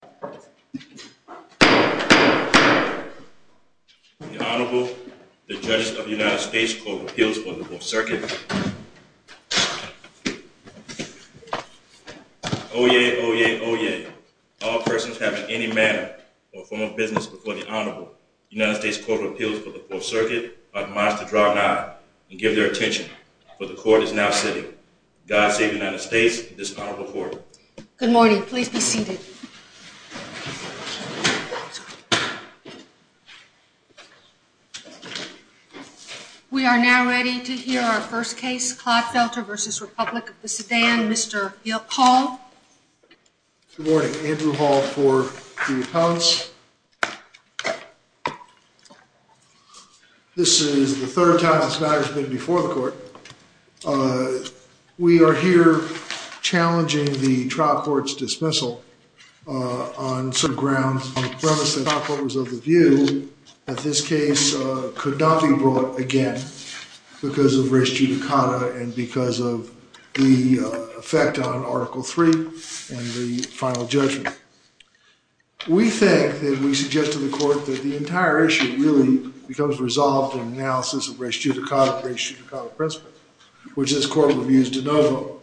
The Honorable, the Judges of the United States Court of Appeals for the Fourth Circuit. Oyez! Oyez! Oyez! All persons having any manner or form of business before the Honorable, United States Court of Appeals for the Fourth Circuit, are admonished to draw an eye and give their attention, for the Court is now sitting. God save the United States and this Honorable Court. Good morning. Please be seated. We are now ready to hear our first case, Clodfelter v. Republic of Sudan. Mr. Hill Hall. Good morning. Andrew Hall for the appellants. This is the third time this matter has been before the Court. We are here challenging the trial court's dismissal on grounds on the premise that the trial court was of the view that this case could not be brought again because of res judicata and because of the effect on Article III and the final judgment. We think, and we suggest to the Court, that the entire issue really becomes resolved in analysis of res judicata, res judicata principle, which this Court will use de novo.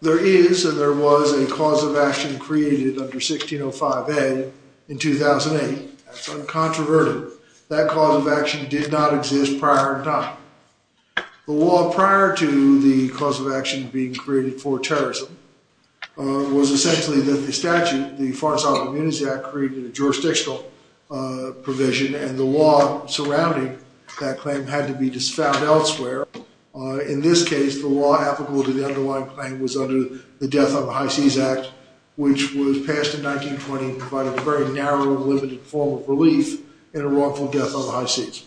There is and there was a cause of action created under 1605 Ed. in 2008. That's uncontroverted. That cause of action did not exist prior in time. The law prior to the cause of action being created for terrorism was essentially that the statute, the Far South Immunities Act, created a jurisdictional provision and the law surrounding that claim had to be found elsewhere. In this case, the law applicable to the underlying claim was under the Death on the High Seas Act, which was passed in 1920 and provided a very narrow, limited form of relief in a wrongful death on the high seas.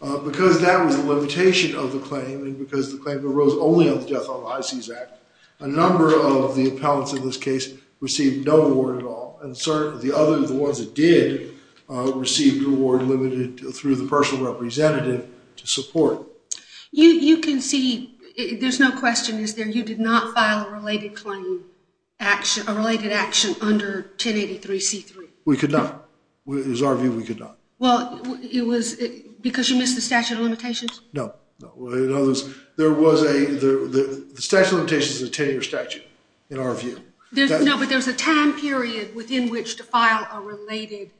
Because that was the limitation of the claim and because the claim arose only on the Death on the High Seas Act, a number of the appellants in this case received no reward at all. And the other ones that did received reward limited through the personal representative to support. You can see, there's no question, is there, you did not file a related claim, a related action under 1083 C3? We could not. It was our view we could not. Well, it was because you missed the statute of limitations? No. The statute of limitations is a 10-year statute in our view. No, but there's a time period within which to file a related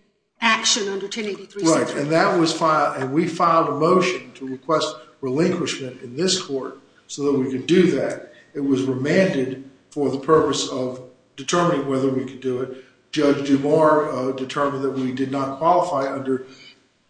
action under 1083 C3. Right, and we filed a motion to request relinquishment in this court so that we could do that. It was remanded for the purpose of determining whether we could do it. Judge DuMore determined that we did not qualify under,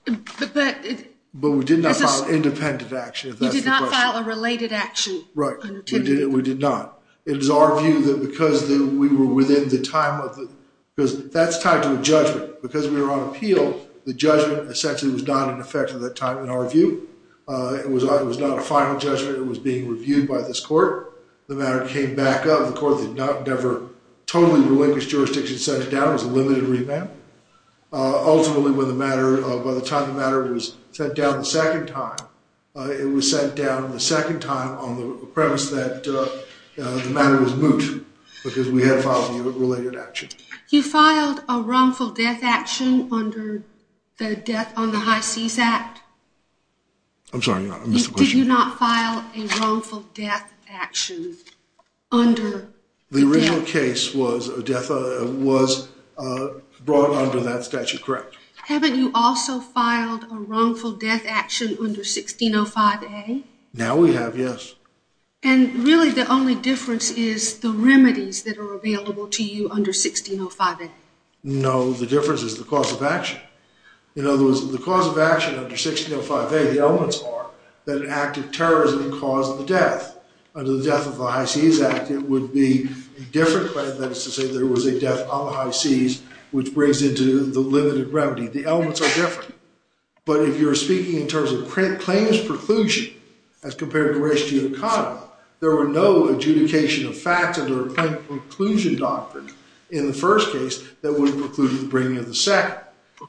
but we did not file an independent action. You did not file a related action? Right. We did not. It was our view that because we were within the time of the, because that's tied to a judgment. Because we were on appeal, the judgment essentially was not in effect at that time in our view. It was not a final judgment. It was being reviewed by this court. The matter came back up. The court did not ever totally relinquish jurisdiction and sent it down. It was a limited remand. Ultimately, by the time the matter was sent down the second time, it was sent down the second time on the premise that the matter was moot because we had filed a related action. You filed a wrongful death action under the Death on the High Seas Act? I'm sorry. I missed the question. You did not file a wrongful death action under the Death on the High Seas Act? The original case was brought under that statute, correct. Haven't you also filed a wrongful death action under 1605A? Now we have, yes. And really the only difference is the remedies that are available to you under 1605A? No. The difference is the cause of action. In other words, the cause of action under 1605A, the elements are that an act of terrorism caused the death. Under the Death on the High Seas Act, it would be a different claim. That is to say, there was a death on the high seas, which brings into the limited remedy. The elements are different. But if you're speaking in terms of plaintiff's preclusion as compared to race, gene, and economy, there were no adjudication of facts under a plaintiff's preclusion doctrine in the first case that would preclude the bringing of the second.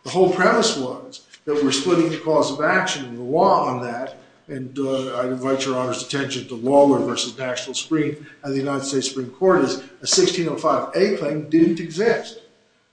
The whole premise was that we're splitting the cause of action and the law on that, and I invite your Honor's attention to Waller v. National Supreme and the United States Supreme Court, is a 1605A claim didn't exist.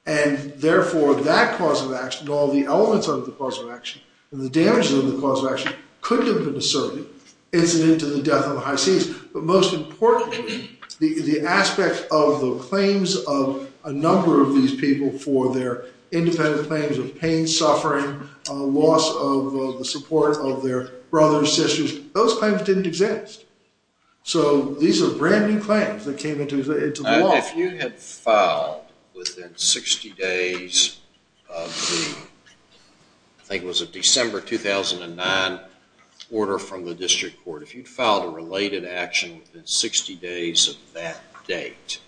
And therefore, that cause of action and all the elements of the cause of action and the damages of the cause of action couldn't have been asserted incident to the death on the high seas. But most importantly, the aspect of the claims of a number of these people for their independent claims of pain, suffering, loss of the support of their brothers, sisters, those claims didn't exist. So these are brand new claims that came into the law. If you had filed within 60 days of the, I think it was a December 2009 order from the district court, if you'd filed a related action within 60 days of that date,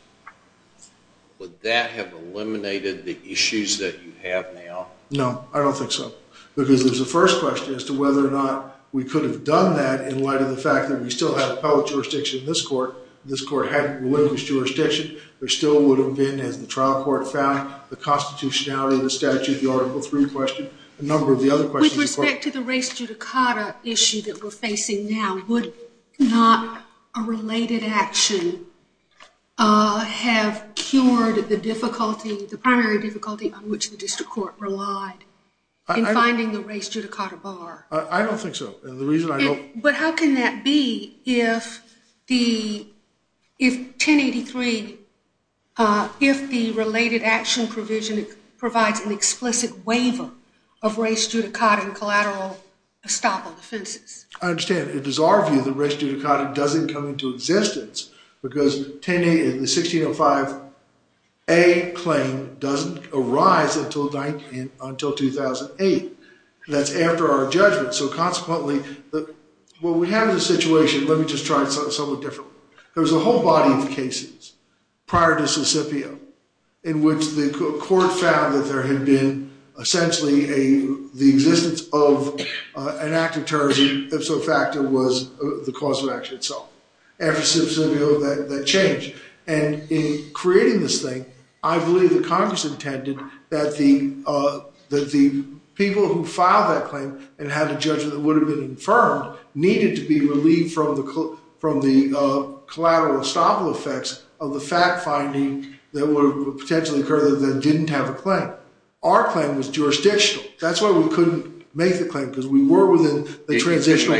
would that have eliminated the issues that you have now? No, I don't think so. Because there's a first question as to whether or not we could have done that in light of the fact that we still have appellate jurisdiction in this court. This court had religious jurisdiction. There still would have been, as the trial court found, the constitutionality of the statute, the Article III question, a number of the other questions. With respect to the race judicata issue that we're facing now, would not a related action have cured the difficulty, the primary difficulty on which the district court relied in finding the race judicata bar? I don't think so. But how can that be if 1083, if the related action provision provides an explicit waiver of race judicata and collateral estoppel offenses? I understand. It is our view that race judicata doesn't come into existence because the 1605A claim doesn't arise until 2008. That's after our judgment. So consequently, what we have is a situation. Let me just try it somewhat differently. There was a whole body of cases prior to Mississippi in which the court found that there had been essentially the existence of an act of terrorism, if so, in fact, it was the cause of action itself. After Mississippi, that changed. And in creating this thing, I believe that Congress intended that the people who filed that claim and had a judgment that would have been affirmed needed to be relieved from the collateral estoppel effects of the fact-finding that would potentially occur that didn't have a claim. Our claim was jurisdictional. That's why we couldn't make the claim because we were within the transitional.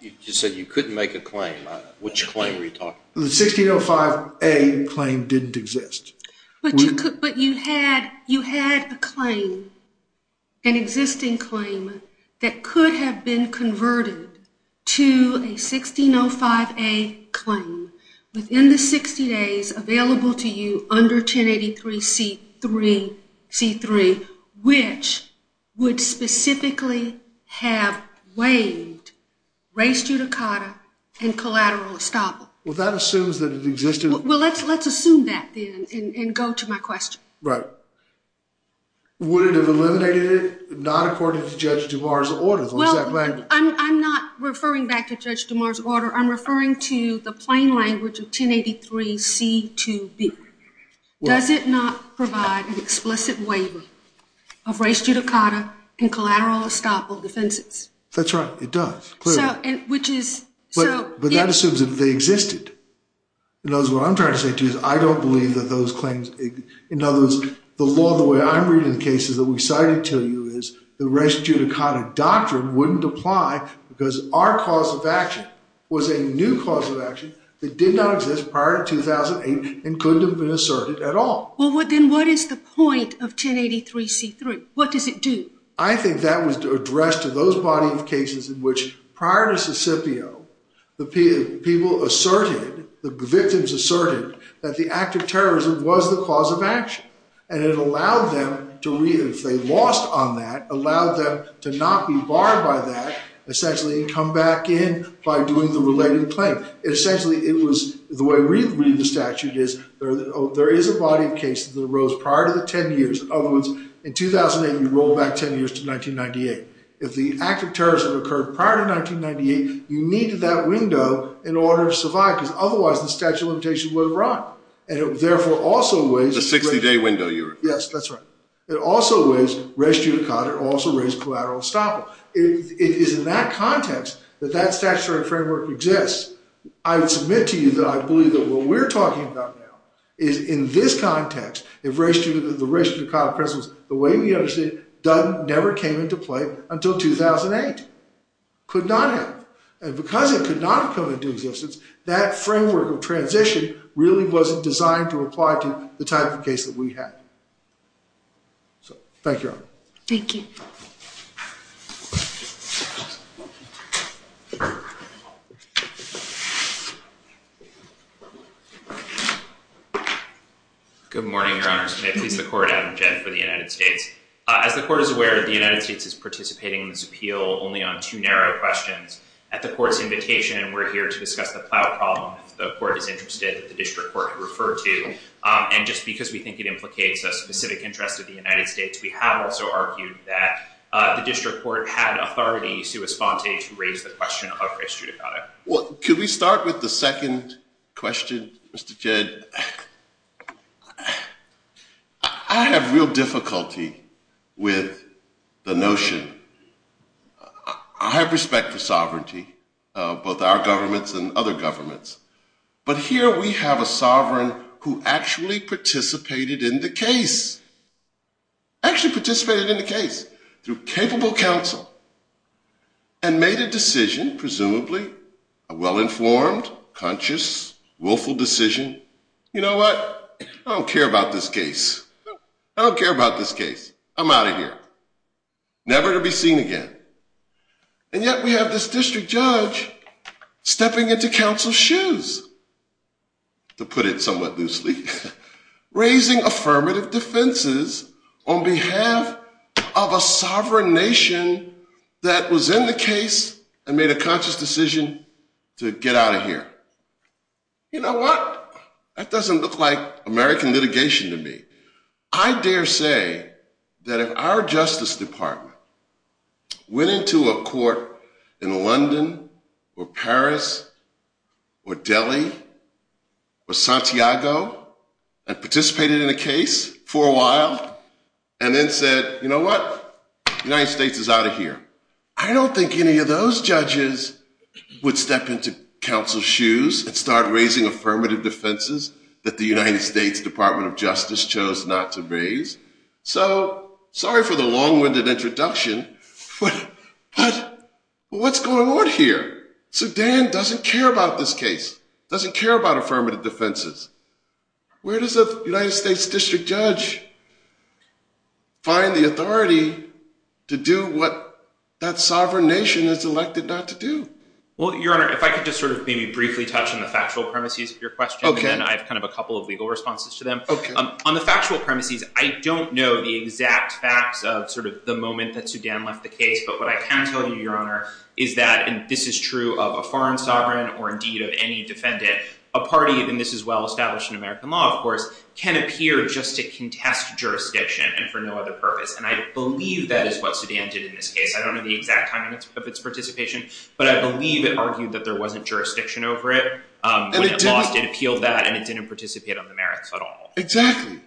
You said you couldn't make a claim. Which claim were you talking about? The 1605A claim didn't exist. But you had a claim, an existing claim, that could have been converted to a 1605A claim within the 60 days available to you under 1083C3, which would specifically have waived race judicata and collateral estoppel. Well, that assumes that it existed. Well, let's assume that then and go to my question. Right. Would it have eliminated it? Not according to Judge DuMars' orders. Well, I'm not referring back to Judge DuMars' order. I'm referring to the plain language of 1083C2B. Does it not provide an explicit waiver of race judicata and collateral estoppel defenses? That's right. It does, clearly. But that assumes that they existed. In other words, what I'm trying to say to you is I don't believe that those claims exist. In other words, the law, the way I'm reading the cases that we cited to you, is the race judicata doctrine wouldn't apply because our cause of action was a new cause of action that did not exist prior to 2008 and couldn't have been asserted at all. Well, then what is the point of 1083C3? What does it do? I think that was addressed to those body of cases in which prior to Sicipio, the people asserted, the victims asserted that the act of terrorism was the cause of action, and it allowed them to read it. If they lost on that, it allowed them to not be barred by that, essentially come back in by doing the related claim. Essentially, the way I read the statute is there is a body of cases that arose prior to the 10 years. In other words, in 2008, you roll back 10 years to 1998. If the act of terrorism occurred prior to 1998, you needed that window in order to survive because otherwise the statute of limitations would have run. And it therefore also weighs— The 60-day window you're referring to. Yes, that's right. It also weighs race judicata. It also weighs collateral estoppel. It is in that context that that statutory framework exists. I would submit to you that I believe that what we're talking about now is in this context, the race judicata principles, the way we understand it, never came into play until 2008. Could not have. And because it could not have come into existence, that framework of transition really wasn't designed to apply to the type of case that we had. So, thank you, Your Honor. Thank you. Thank you. Good morning, Your Honors. May it please the Court, Adam Jett for the United States. As the Court is aware, the United States is participating in this appeal only on two narrow questions. At the Court's invitation, we're here to discuss the plow problem. If the Court is interested, the district court could refer to. And just because we think it implicates a specific interest of the United States, we have also argued that the district court had authority to respond to raise the question of race judicata. Well, could we start with the second question, Mr. Jett? I have real difficulty with the notion. I have respect for sovereignty, both our governments and other governments. But here we have a sovereign who actually participated in the case. Actually participated in the case through capable counsel and made a decision, presumably, a well-informed, conscious, willful decision. You know what? I don't care about this case. I don't care about this case. I'm out of here. Never to be seen again. And yet we have this district judge stepping into counsel's shoes, to put it somewhat loosely, raising affirmative defenses on behalf of a sovereign nation that was in the case and made a conscious decision to get out of here. You know what? That doesn't look like American litigation to me. I dare say that if our Justice Department went into a court in London or Paris or Delhi or Santiago and participated in a case for a while and then said, you know what? The United States is out of here. I don't think any of those judges would step into counsel's shoes and start raising affirmative defenses that the United States Department of Justice chose not to raise. So sorry for the long-winded introduction, but what's going on here? Sudan doesn't care about this case, doesn't care about affirmative defenses. Where does a United States district judge find the authority to do what that sovereign nation is elected not to do? Well, Your Honor, if I could just sort of maybe briefly touch on the factual premises of your question, and then I have kind of a couple of legal responses to them. On the factual premises, I don't know the exact facts of sort of the moment that Sudan left the case, but what I can tell you, Your Honor, is that, and this is true of a foreign sovereign or indeed of any defendant, a party, and this is well established in American law, of course, can appear just to contest jurisdiction and for no other purpose. And I believe that is what Sudan did in this case. I don't know the exact timing of its participation, but I believe it argued that there wasn't jurisdiction over it. When it lost, it appealed that, and it didn't participate on the merits at all. Exactly.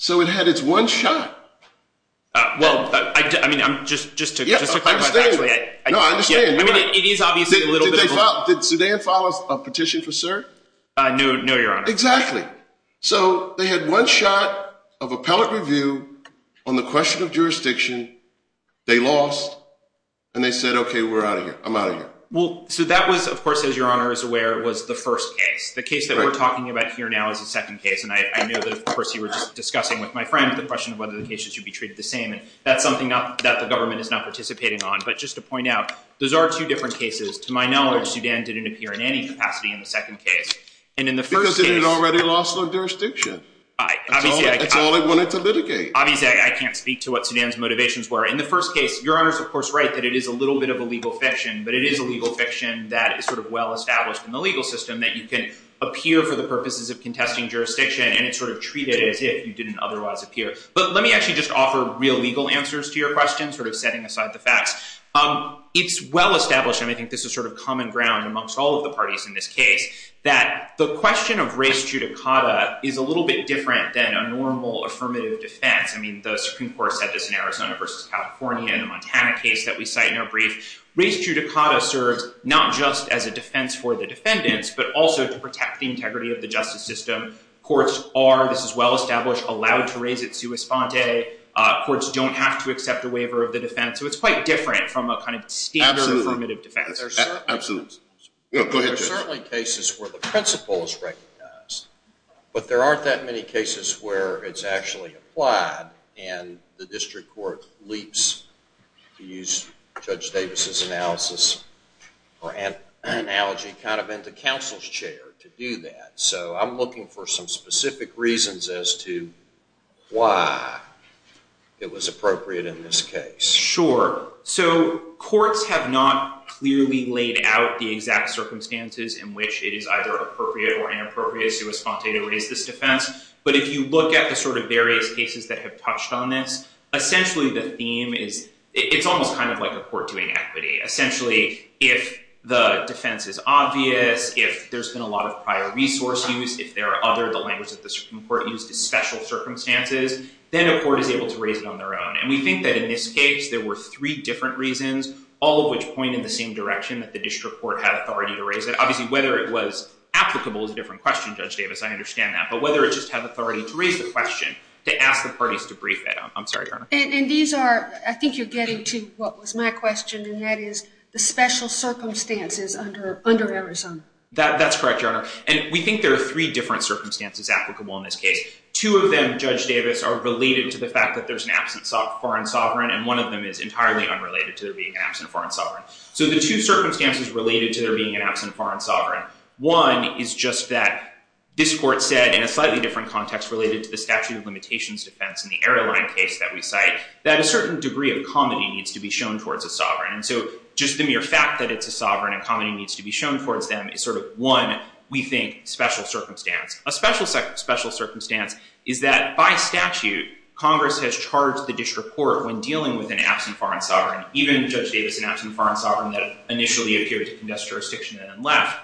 So it had its one shot. Well, I mean, just to clarify. No, I understand. I mean, it is obviously a little bit of a— Did Sudan file a petition for cert? No, Your Honor. Exactly. So they had one shot of appellate review on the question of jurisdiction. They lost, and they said, okay, we're out of here. I'm out of here. Well, so that was, of course, as Your Honor is aware, was the first case. The case that we're talking about here now is the second case, and I know that, of course, you were just discussing with my friend the question of whether the case should be treated the same, and that's something that the government is not participating on. But just to point out, those are two different cases. To my knowledge, Sudan didn't appear in any capacity in the second case. Because it had already lost their jurisdiction. That's all they wanted to litigate. Obviously, I can't speak to what Sudan's motivations were. In the first case, Your Honor is, of course, right that it is a little bit of a legal fiction, but it is a legal fiction that is sort of well-established in the legal system that you can appear for the purposes of contesting jurisdiction, and it's sort of treated as if you didn't otherwise appear. But let me actually just offer real legal answers to your question, sort of setting aside the facts. It's well-established, and I think this is sort of common ground amongst all of the parties in this case, that the question of res judicata is a little bit different than a normal affirmative defense. I mean, the Supreme Court said this in Arizona versus California in the Montana case that we cite in our brief. Res judicata serves not just as a defense for the defendants, but also to protect the integrity of the justice system. Courts are, this is well-established, allowed to raise it sua sponte. Courts don't have to accept a waiver of the defense. So it's quite different from a kind of standard affirmative defense. Absolutely. Go ahead, Judge. There are certainly cases where the principle is recognized, but there aren't that many cases where it's actually applied, and the district court leaps, to use Judge Davis's analysis or analogy, kind of into counsel's chair to do that. So I'm looking for some specific reasons as to why it was appropriate in this case. Sure. So courts have not clearly laid out the exact circumstances in which it is either appropriate or inappropriate sua sponte to raise this defense. But if you look at the sort of various cases that have touched on this, essentially the theme is, it's almost kind of like a court doing equity. Essentially, if the defense is obvious, if there's been a lot of prior resource use, if there are other, the language that the Supreme Court used is special circumstances, then a court is able to raise it on their own. And we think that in this case, there were three different reasons, all of which point in the same direction that the district court had authority to raise it. Obviously, whether it was applicable is a different question, Judge Davis. I understand that. But whether it just had authority to raise the question, to ask the parties to brief it. I'm sorry, Your Honor. And these are, I think you're getting to what was my question, and that is the special circumstances under Arizona. That's correct, Your Honor. And we think there are three different circumstances applicable in this case. Two of them, Judge Davis, are related to the fact that there's an absent foreign sovereign, and one of them is entirely unrelated to there being an absent foreign sovereign. So the two circumstances related to there being an absent foreign sovereign, one is just that this court said in a slightly different context related to the statute of limitations defense in the airline case that we cite, that a certain degree of comedy needs to be shown towards a sovereign. And so just the mere fact that it's a sovereign and comedy needs to be shown towards them is sort of one, we think, special circumstance. A special circumstance is that by statute, Congress has charged the district court when dealing with an absent foreign sovereign, even Judge Davis, an absent foreign sovereign that initially appeared to condest jurisdiction and then left,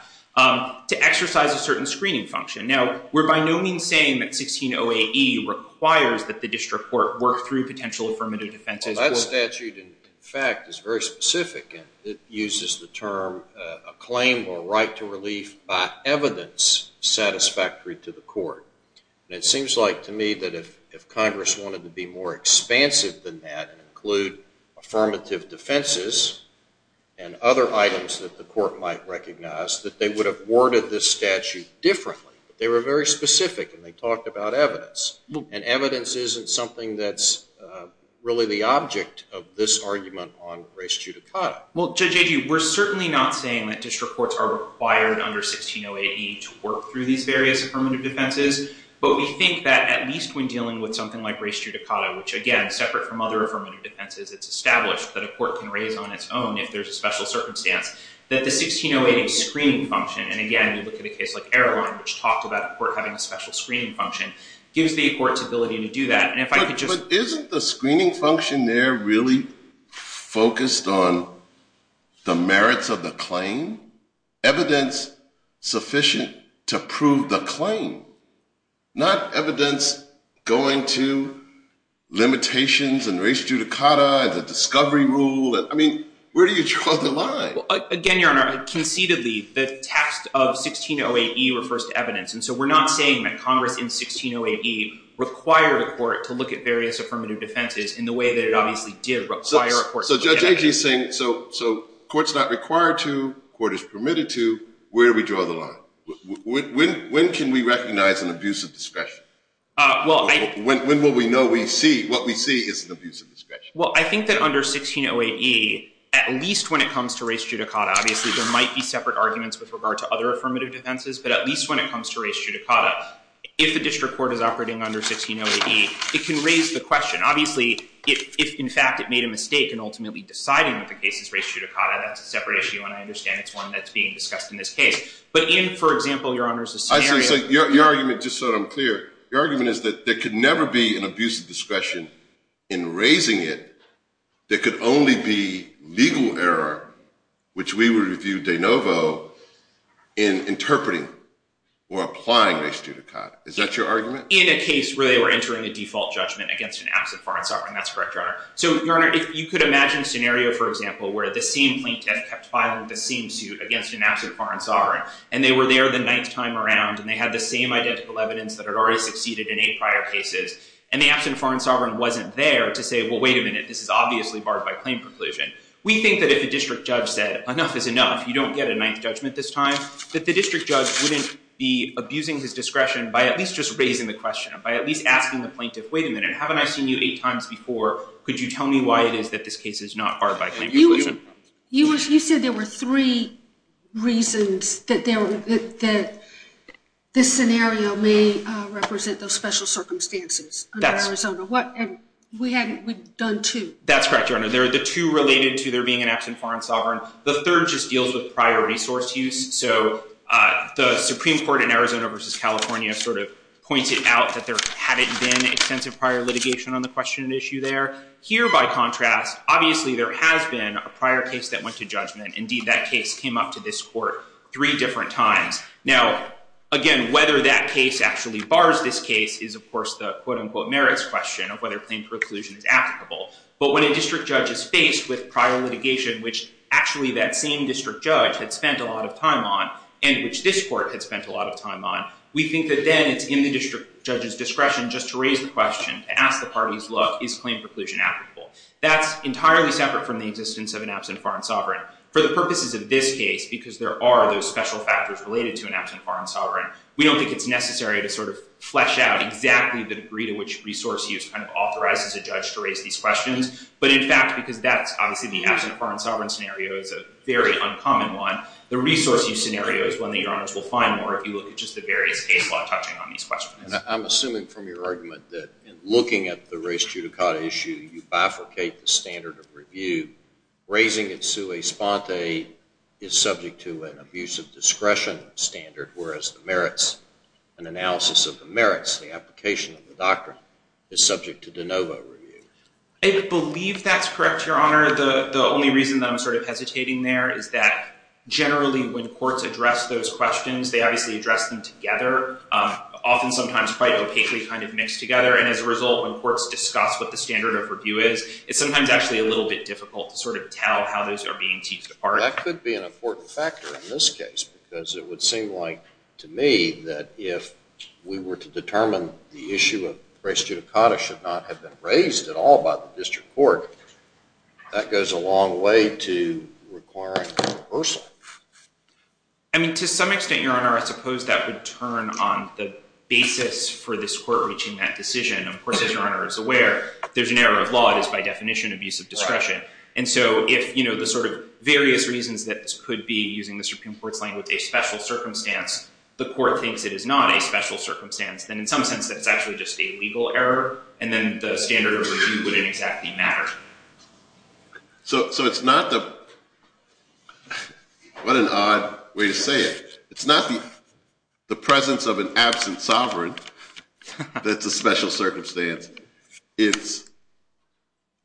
to exercise a certain screening function. Now, we're by no means saying that 16 OAE requires that the district court work through potential affirmative defense. Well, that statute, in fact, is very specific. It uses the term acclaimed or right to relief by evidence satisfactory to the court. And it seems like to me that if Congress wanted to be more expansive than that and include affirmative defenses and other items that the court might recognize, that they would have worded this statute differently. They were very specific, and they talked about evidence. And evidence isn't something that's really the object of this argument on res judicata. Well, Judge Agee, we're certainly not saying that district courts are required under 16 OAE to work through these various affirmative defenses, but we think that at least when dealing with something like res judicata, which again, separate from other affirmative defenses, it's established that a court can raise on its own if there's a special circumstance, that the 16 OAE screening function, and again, you look at a case like Erroline, which talked about a court having a special screening function, gives the court's ability to do that. But isn't the screening function there really focused on the merits of the claim, evidence sufficient to prove the claim, not evidence going to limitations and res judicata and the discovery rule? I mean, where do you draw the line? Well, again, Your Honor, conceitedly, the text of 16 OAE refers to evidence, and so we're not saying that Congress in 16 OAE required a court to look at various affirmative defenses in the way that it obviously did require a court to look at evidence. So Judge Agee is saying, so courts not required to, court is permitted to, where do we draw the line? When can we recognize an abuse of discretion? When will we know what we see is an abuse of discretion? Well, I think that under 16 OAE, at least when it comes to res judicata, obviously there might be separate arguments with regard to other affirmative defenses, but at least when it comes to res judicata, if the district court is operating under 16 OAE, it can raise the question. Obviously, if, in fact, it made a mistake in ultimately deciding that the case is res judicata, that's a separate issue, and I understand it's one that's being discussed in this case. But in, for example, Your Honor's scenario. Your argument, just so that I'm clear, your argument is that there could never be an abuse of discretion in raising it. There could only be legal error, which we would view de novo, in interpreting or applying res judicata. Is that your argument? In a case where they were entering a default judgment against an absent foreign sovereign, that's correct, Your Honor. So, Your Honor, if you could imagine a scenario, for example, where the same plaintiff kept filing the same suit against an absent foreign sovereign, and they were there the ninth time around, and they had the same identical evidence that had already succeeded in eight prior cases, and the absent foreign sovereign wasn't there to say, well, wait a minute, this is obviously barred by claim preclusion. We think that if the district judge said, enough is enough, you don't get a ninth judgment this time, that the district judge wouldn't be abusing his discretion by at least just raising the question, by at least asking the plaintiff, wait a minute, haven't I seen you eight times before? Could you tell me why it is that this case is not barred by claim preclusion? You said there were three reasons that this scenario may represent those special circumstances. That's correct. And we've done two. That's correct, Your Honor. The two related to there being an absent foreign sovereign. The third just deals with prior resource use. So the Supreme Court in Arizona v. California sort of pointed out that there hadn't been extensive prior litigation on the question and issue there. Here, by contrast, obviously there has been a prior case that went to judgment. Indeed, that case came up to this court three different times. Now, again, whether that case actually bars this case is, of course, the quote-unquote merits question of whether claim preclusion is applicable. But when a district judge is faced with prior litigation, which actually that same district judge had spent a lot of time on, and which this court had spent a lot of time on, we think that then it's in the district judge's discretion just to raise the question, to ask the parties, look, is claim preclusion applicable? That's entirely separate from the existence of an absent foreign sovereign. For the purposes of this case, because there are those special factors related to an absent foreign sovereign, we don't think it's necessary to sort of flesh out exactly the degree to which resource use kind of authorizes a judge to raise these questions. But in fact, because that's obviously the absent foreign sovereign scenario, it's a very uncommon one, the resource use scenario is one that Your Honors will find more if you look at just the various case law touching on these questions. I'm assuming from your argument that in looking at the race judicata issue, you bifurcate the standard of review. Raising it sui sponte is subject to an abuse of discretion standard, whereas the merits, an analysis of the merits, the application of the doctrine is subject to de novo review. I believe that's correct, Your Honor. The only reason that I'm sort of hesitating there is that generally when courts address those questions, they obviously address them together. Often sometimes quite opaquely kind of mixed together, and as a result when courts discuss what the standard of review is, it's sometimes actually a little bit difficult to sort of tell how those are being teased apart. That could be an important factor in this case, because it would seem like to me that if we were to determine the issue of race judicata should not have been raised at all by the district court, that goes a long way to requiring a reversal. I mean, to some extent, Your Honor, I suppose that would turn on the basis for this court reaching that decision. Of course, as Your Honor is aware, if there's an error of law, it is by definition abuse of discretion. And so if the sort of various reasons that this could be, using the Supreme Court's language, a special circumstance, the court thinks it is not a special circumstance, then in some sense that's actually just a legal error, and then the standard of review wouldn't exactly matter. So it's not the – what an odd way to say it. It's not the presence of an absent sovereign that's a special circumstance. It's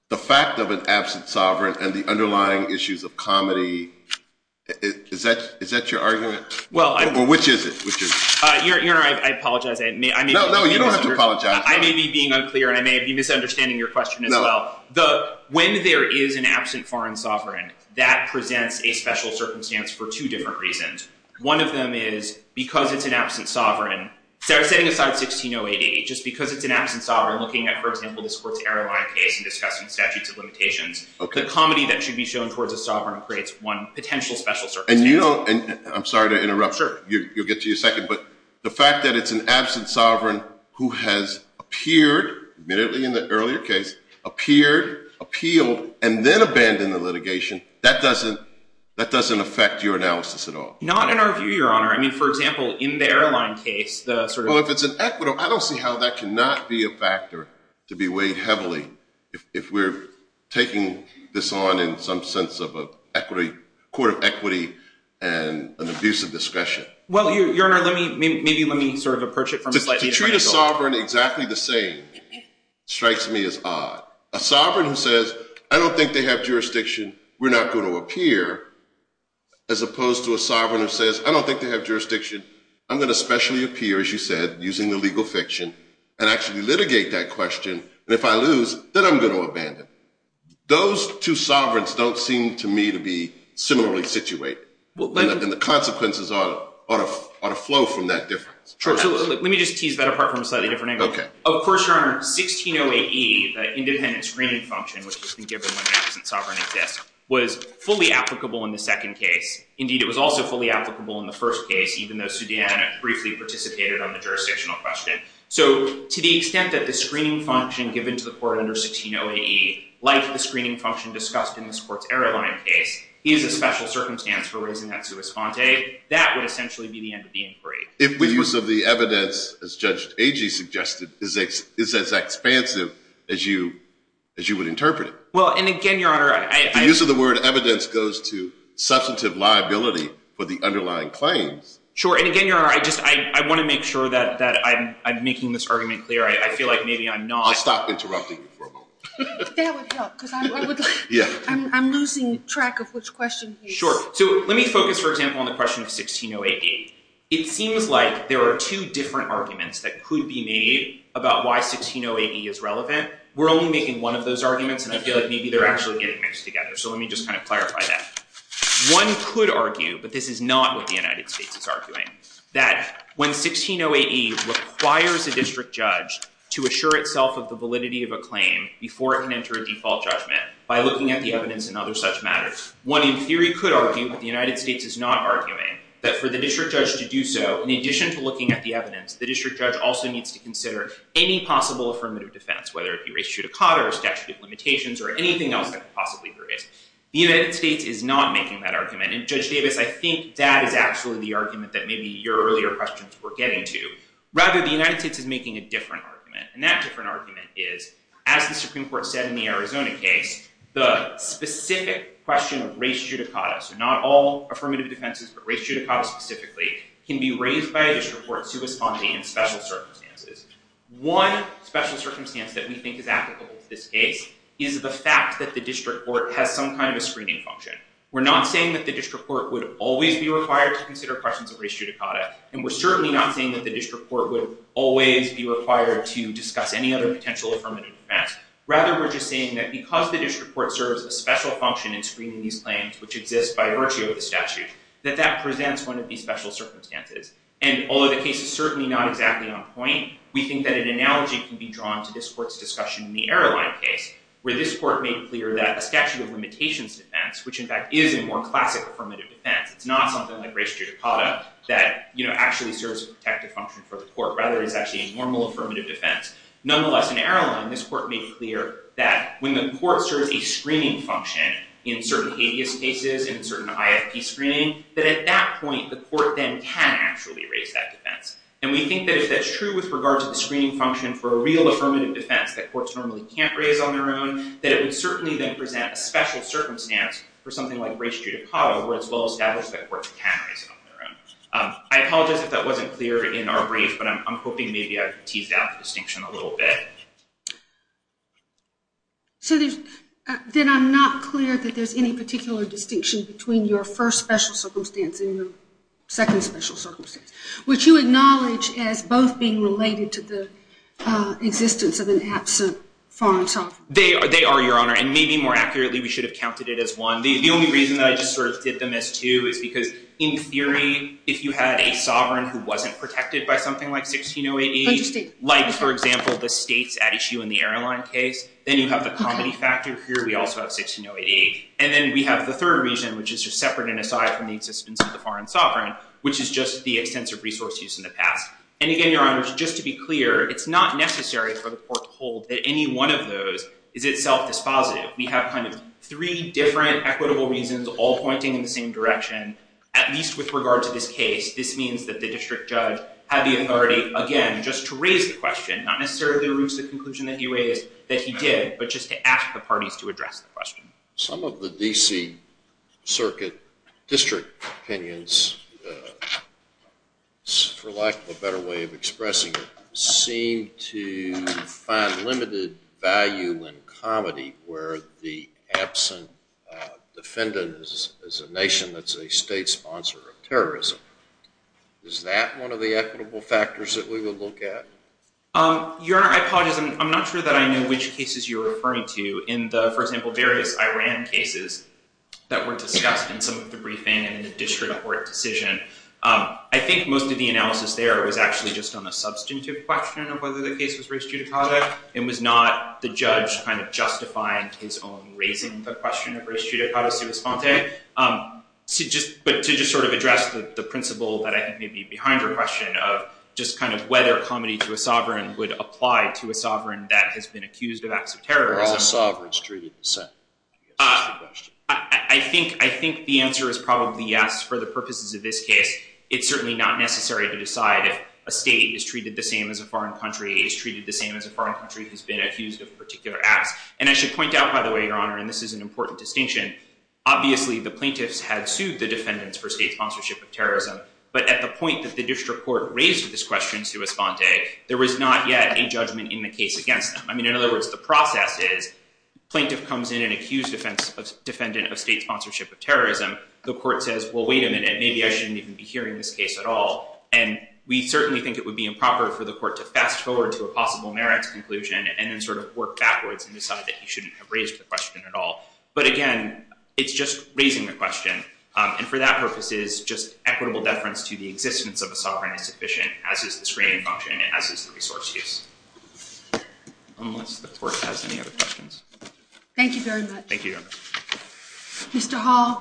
the fact of an absent sovereign and the underlying issues of comedy. Is that your argument? Or which is it? Your Honor, I apologize. No, no, you don't have to apologize. I may be being unclear, and I may be misunderstanding your question as well. When there is an absent foreign sovereign, that presents a special circumstance for two different reasons. One of them is because it's an absent sovereign, setting aside 16088, just because it's an absent sovereign, looking at, for example, this Courts Error Line case and discussing statutes of limitations, the comedy that should be shown towards a sovereign creates one potential special circumstance. And you don't – I'm sorry to interrupt. Sure. You'll get to your second. But the fact that it's an absent sovereign who has appeared, admittedly in the earlier case, appeared, appealed, and then abandoned the litigation, that doesn't affect your analysis at all. Not in our view, Your Honor. I mean, for example, in the Error Line case, the sort of – Well, if it's an equitable – I don't see how that cannot be a factor to be weighed heavily if we're taking this on in some sense of a court of equity and an abuse of discretion. Well, Your Honor, maybe let me sort of approach it from a slightly different angle. A sovereign exactly the same strikes me as odd. A sovereign who says, I don't think they have jurisdiction, we're not going to appear, as opposed to a sovereign who says, I don't think they have jurisdiction, I'm going to specially appear, as you said, using the legal fiction, and actually litigate that question, and if I lose, then I'm going to abandon it. Those two sovereigns don't seem to me to be similarly situated. And the consequences ought to flow from that difference. Let me just tease that apart from a slightly different angle. Of course, Your Honor, 1608E, the independent screening function, which has been given when an absent sovereign exists, was fully applicable in the second case. Indeed, it was also fully applicable in the first case, even though Sudiana briefly participated on the jurisdictional question. So to the extent that the screening function given to the court under 1608E, like the screening function discussed in this court's Error Line case, is a special circumstance for raising that sua sponte, that would essentially be the end of the inquiry. The use of the evidence, as Judge Agee suggested, is as expansive as you would interpret it. Well, and again, Your Honor, I... The use of the word evidence goes to substantive liability for the underlying claims. Sure, and again, Your Honor, I just want to make sure that I'm making this argument clear. I feel like maybe I'm not... I'll stop interrupting you for a moment. That would help, because I'm losing track of which question he's... Sure, so let me focus, for example, on the question of 1608E. It seems like there are two different arguments that could be made about why 1608E is relevant. We're only making one of those arguments, and I feel like maybe they're actually getting mixed together. So let me just kind of clarify that. One could argue, but this is not what the United States is arguing, that when 1608E requires a district judge to assure itself of the validity of a claim before it can enter a default judgment by looking at the evidence in other such matters, one in theory could argue, but the United States is not arguing, that for the district judge to do so, in addition to looking at the evidence, the district judge also needs to consider any possible affirmative defense, whether it be race judicata or statute of limitations or anything else that could possibly arise. The United States is not making that argument, and Judge Davis, I think that is actually the argument that maybe your earlier questions were getting to. Rather, the United States is making a different argument, and that different argument is, as the Supreme Court said in the Arizona case, the specific question of race judicata, so not all affirmative defenses, but race judicata specifically, can be raised by a district court to respond to in special circumstances. One special circumstance that we think is applicable to this case is the fact that the district court has some kind of a screening function. We're not saying that the district court would always be required to consider questions of race judicata, and we're certainly not saying that the district court would always be required to discuss any other potential affirmative defense. Rather, we're just saying that because the district court serves a special function in screening these claims, which exist by virtue of the statute, that that presents one of these special circumstances. And although the case is certainly not exactly on point, we think that an analogy can be drawn to this court's discussion in the airline case, where this court made clear that a statute of limitations defense, which in fact is a more classic affirmative defense, it's not something like race judicata that actually serves a protective function for the court. Rather, it's actually a normal affirmative defense. Nonetheless, in airline, this court made clear that when the court serves a screening function in certain habeas cases, in certain IFP screening, that at that point, the court then can actually raise that defense. And we think that if that's true with regard to the screening function for a real affirmative defense that courts normally can't raise on their own, that it would certainly then present a special circumstance for something like race judicata, where it's well established that courts can raise it on their own. I apologize if that wasn't clear in our brief, but I'm hoping maybe I've teased out the distinction a little bit. So there's... Then I'm not clear that there's any particular distinction between your first special circumstance and your second special circumstance, which you acknowledge as both being related to the existence of an absent foreign sovereign. They are, Your Honor. And maybe more accurately, we should have counted it as one. The only reason that I just sort of did them as two is because in theory, if you had a sovereign who wasn't protected by something like 1608, like, for example, the states at issue in the airline case, then you have the comedy factor. Here we also have 1608E. And then we have the third reason, which is just separate and aside from the existence of the foreign sovereign, which is just the extensive resource use in the past. And again, Your Honor, just to be clear, it's not necessary for the court to hold that any one of those is itself dispositive. We have kind of three different equitable reasons all pointing in the same direction. At least with regard to this case, this means that the district judge had the authority, again, just to raise the question, not necessarily to reach the conclusion that he raised, that he did, but just to ask the parties to address the question. Some of the D.C. Circuit district opinions, for lack of a better way of expressing it, seem to find limited value in comedy where the absent defendant is a nation that's a state sponsor of terrorism. Is that one of the equitable factors that we would look at? Your Honor, I apologize. I'm not sure that I know which cases you're referring to. In the, for example, various Iran cases that were discussed in some of the briefing and in the district court decision, I think most of the analysis there was actually just on a substantive question of whether the case was res judicata. It was not the judge kind of justifying his own raising the question of res judicata sui sponte. But to just sort of address the principle that I think may be behind your question of just kind of whether comedy to a sovereign would apply to a sovereign that has been accused of acts of terrorism. Are all sovereigns treated the same? I think the answer is probably yes. For the purposes of this case, it's certainly not necessary to decide if a state is treated the same as a foreign country, is treated the same as a foreign country who's been accused of a particular act. And I should point out, by the way, Your Honor, and this is an important distinction, obviously the plaintiffs had sued the defendants for state sponsorship of terrorism. But at the point that the district court raised this question sui sponte, there was not yet a judgment in the case against them. I mean, in other words, the process is plaintiff comes in and accused defendant of state sponsorship of terrorism. The court says, well, wait a minute, maybe I shouldn't even be hearing this case at all. And we certainly think it would be improper for the court to fast forward to a possible merits conclusion and then sort of work backwards and decide that you shouldn't have raised the question at all. But again, it's just raising the question. And for that purpose, it is just equitable deference to the existence of a sovereignty sufficient, as is the screening function and as is the resource use. Unless the court has any other questions. Thank you very much. Thank you, Your Honor. Mr. Hall.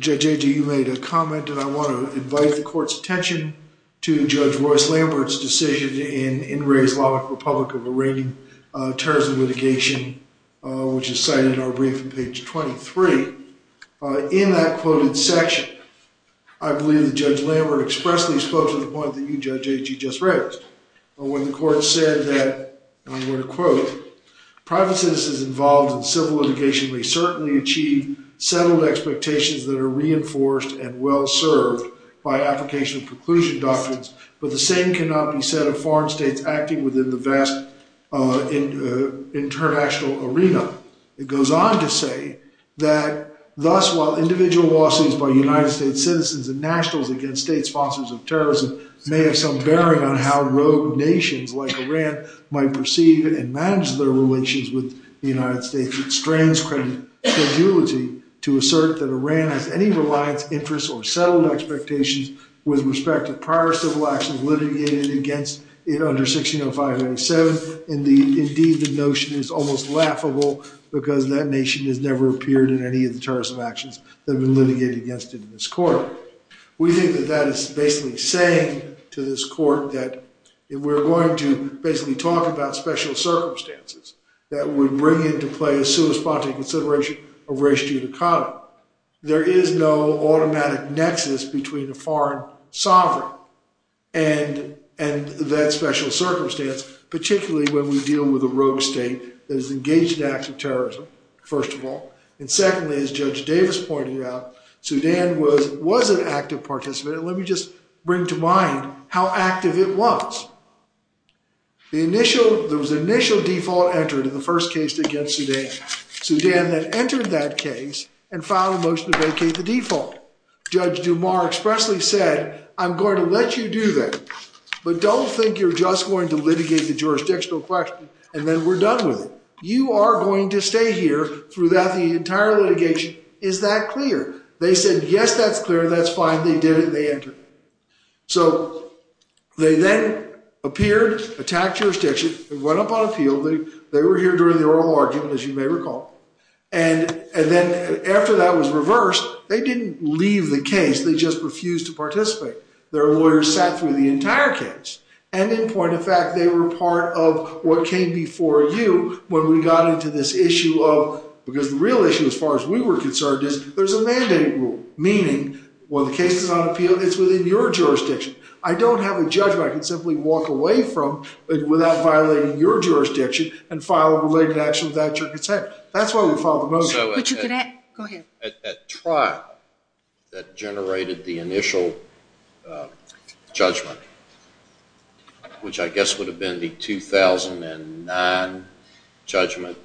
Judge Agee, you made a comment and I want to invite the court's attention to Judge Royce Lambert's decision in In Re's Law Republic of Arraigning Terrorism Litigation, which is cited in our brief on page 23. In that quoted section, I believe that Judge Lambert expressly spoke to the point that you, Judge Agee, just raised. When the court said that, and I'm going to quote, private citizens involved in civil litigation may certainly achieve settled expectations that are reinforced and well served by application of preclusion doctrines, but the same cannot be said of foreign states acting within the vast international arena. It goes on to say that, thus, while individual lawsuits by United States citizens and nationals against state sponsors of terrorism may have some bearing on how rogue nations like Iran might perceive and manage their relations with the United States, it strains credibility to assert that Iran has any reliance, interest, or settled expectations with respect to prior civil actions litigated against it under 1605-87. Indeed, the notion is almost laughable because that nation has never appeared in any of the terrorism actions that have been litigated against it in this court. We think that that is basically saying to this court that if we're going to basically talk about special circumstances that would bring into play a sui sponte consideration of race and geography, there is no automatic nexus between a foreign sovereign and that special circumstance, particularly when we deal with a rogue state that is engaged in acts of terrorism, first of all. And secondly, as Judge Davis pointed out, Sudan was an active participant. Let me just bring to mind how active it was. There was an initial default entered in the first case against Sudan. Sudan then entered that case and filed a motion to vacate the default. Judge Dumas expressly said, I'm going to let you do that, but don't think you're just going to litigate the jurisdictional question and then we're done with it. You are going to stay here throughout the entire litigation. Is that clear? They said, yes, that's clear, that's fine, they did it, they entered. So they then appeared, attacked jurisdiction, went up on appeal, they were here during the oral argument, as you may recall. After that was reversed, they didn't leave the case, they just refused to participate. Their lawyers sat through the entire case. And in point of fact, they were part of what came before you when we got into this issue of, because the real issue, as far as we were concerned, is there's a mandate rule, meaning when the case is on appeal, it's within your jurisdiction. I don't have a judgment I can simply walk away from without violating your jurisdiction and file a related action without your consent. That's why we filed the motion. At trial that generated the initial judgment, which I guess would have been the 2009 judgment,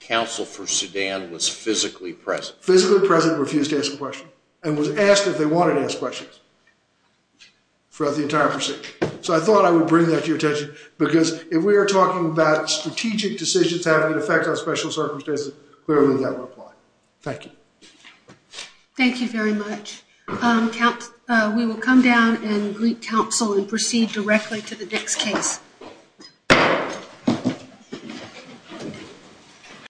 counsel for Sudan was physically present. Physically present and refused to ask a question. And was asked if they wanted to ask questions throughout the hearing. So I just wanted to point that out to you. Because if we are talking about strategic decisions having an effect on special circumstances, clearly that would apply. Thank you. Thank you very much. We will come down and greet counsel and proceed directly to the next case.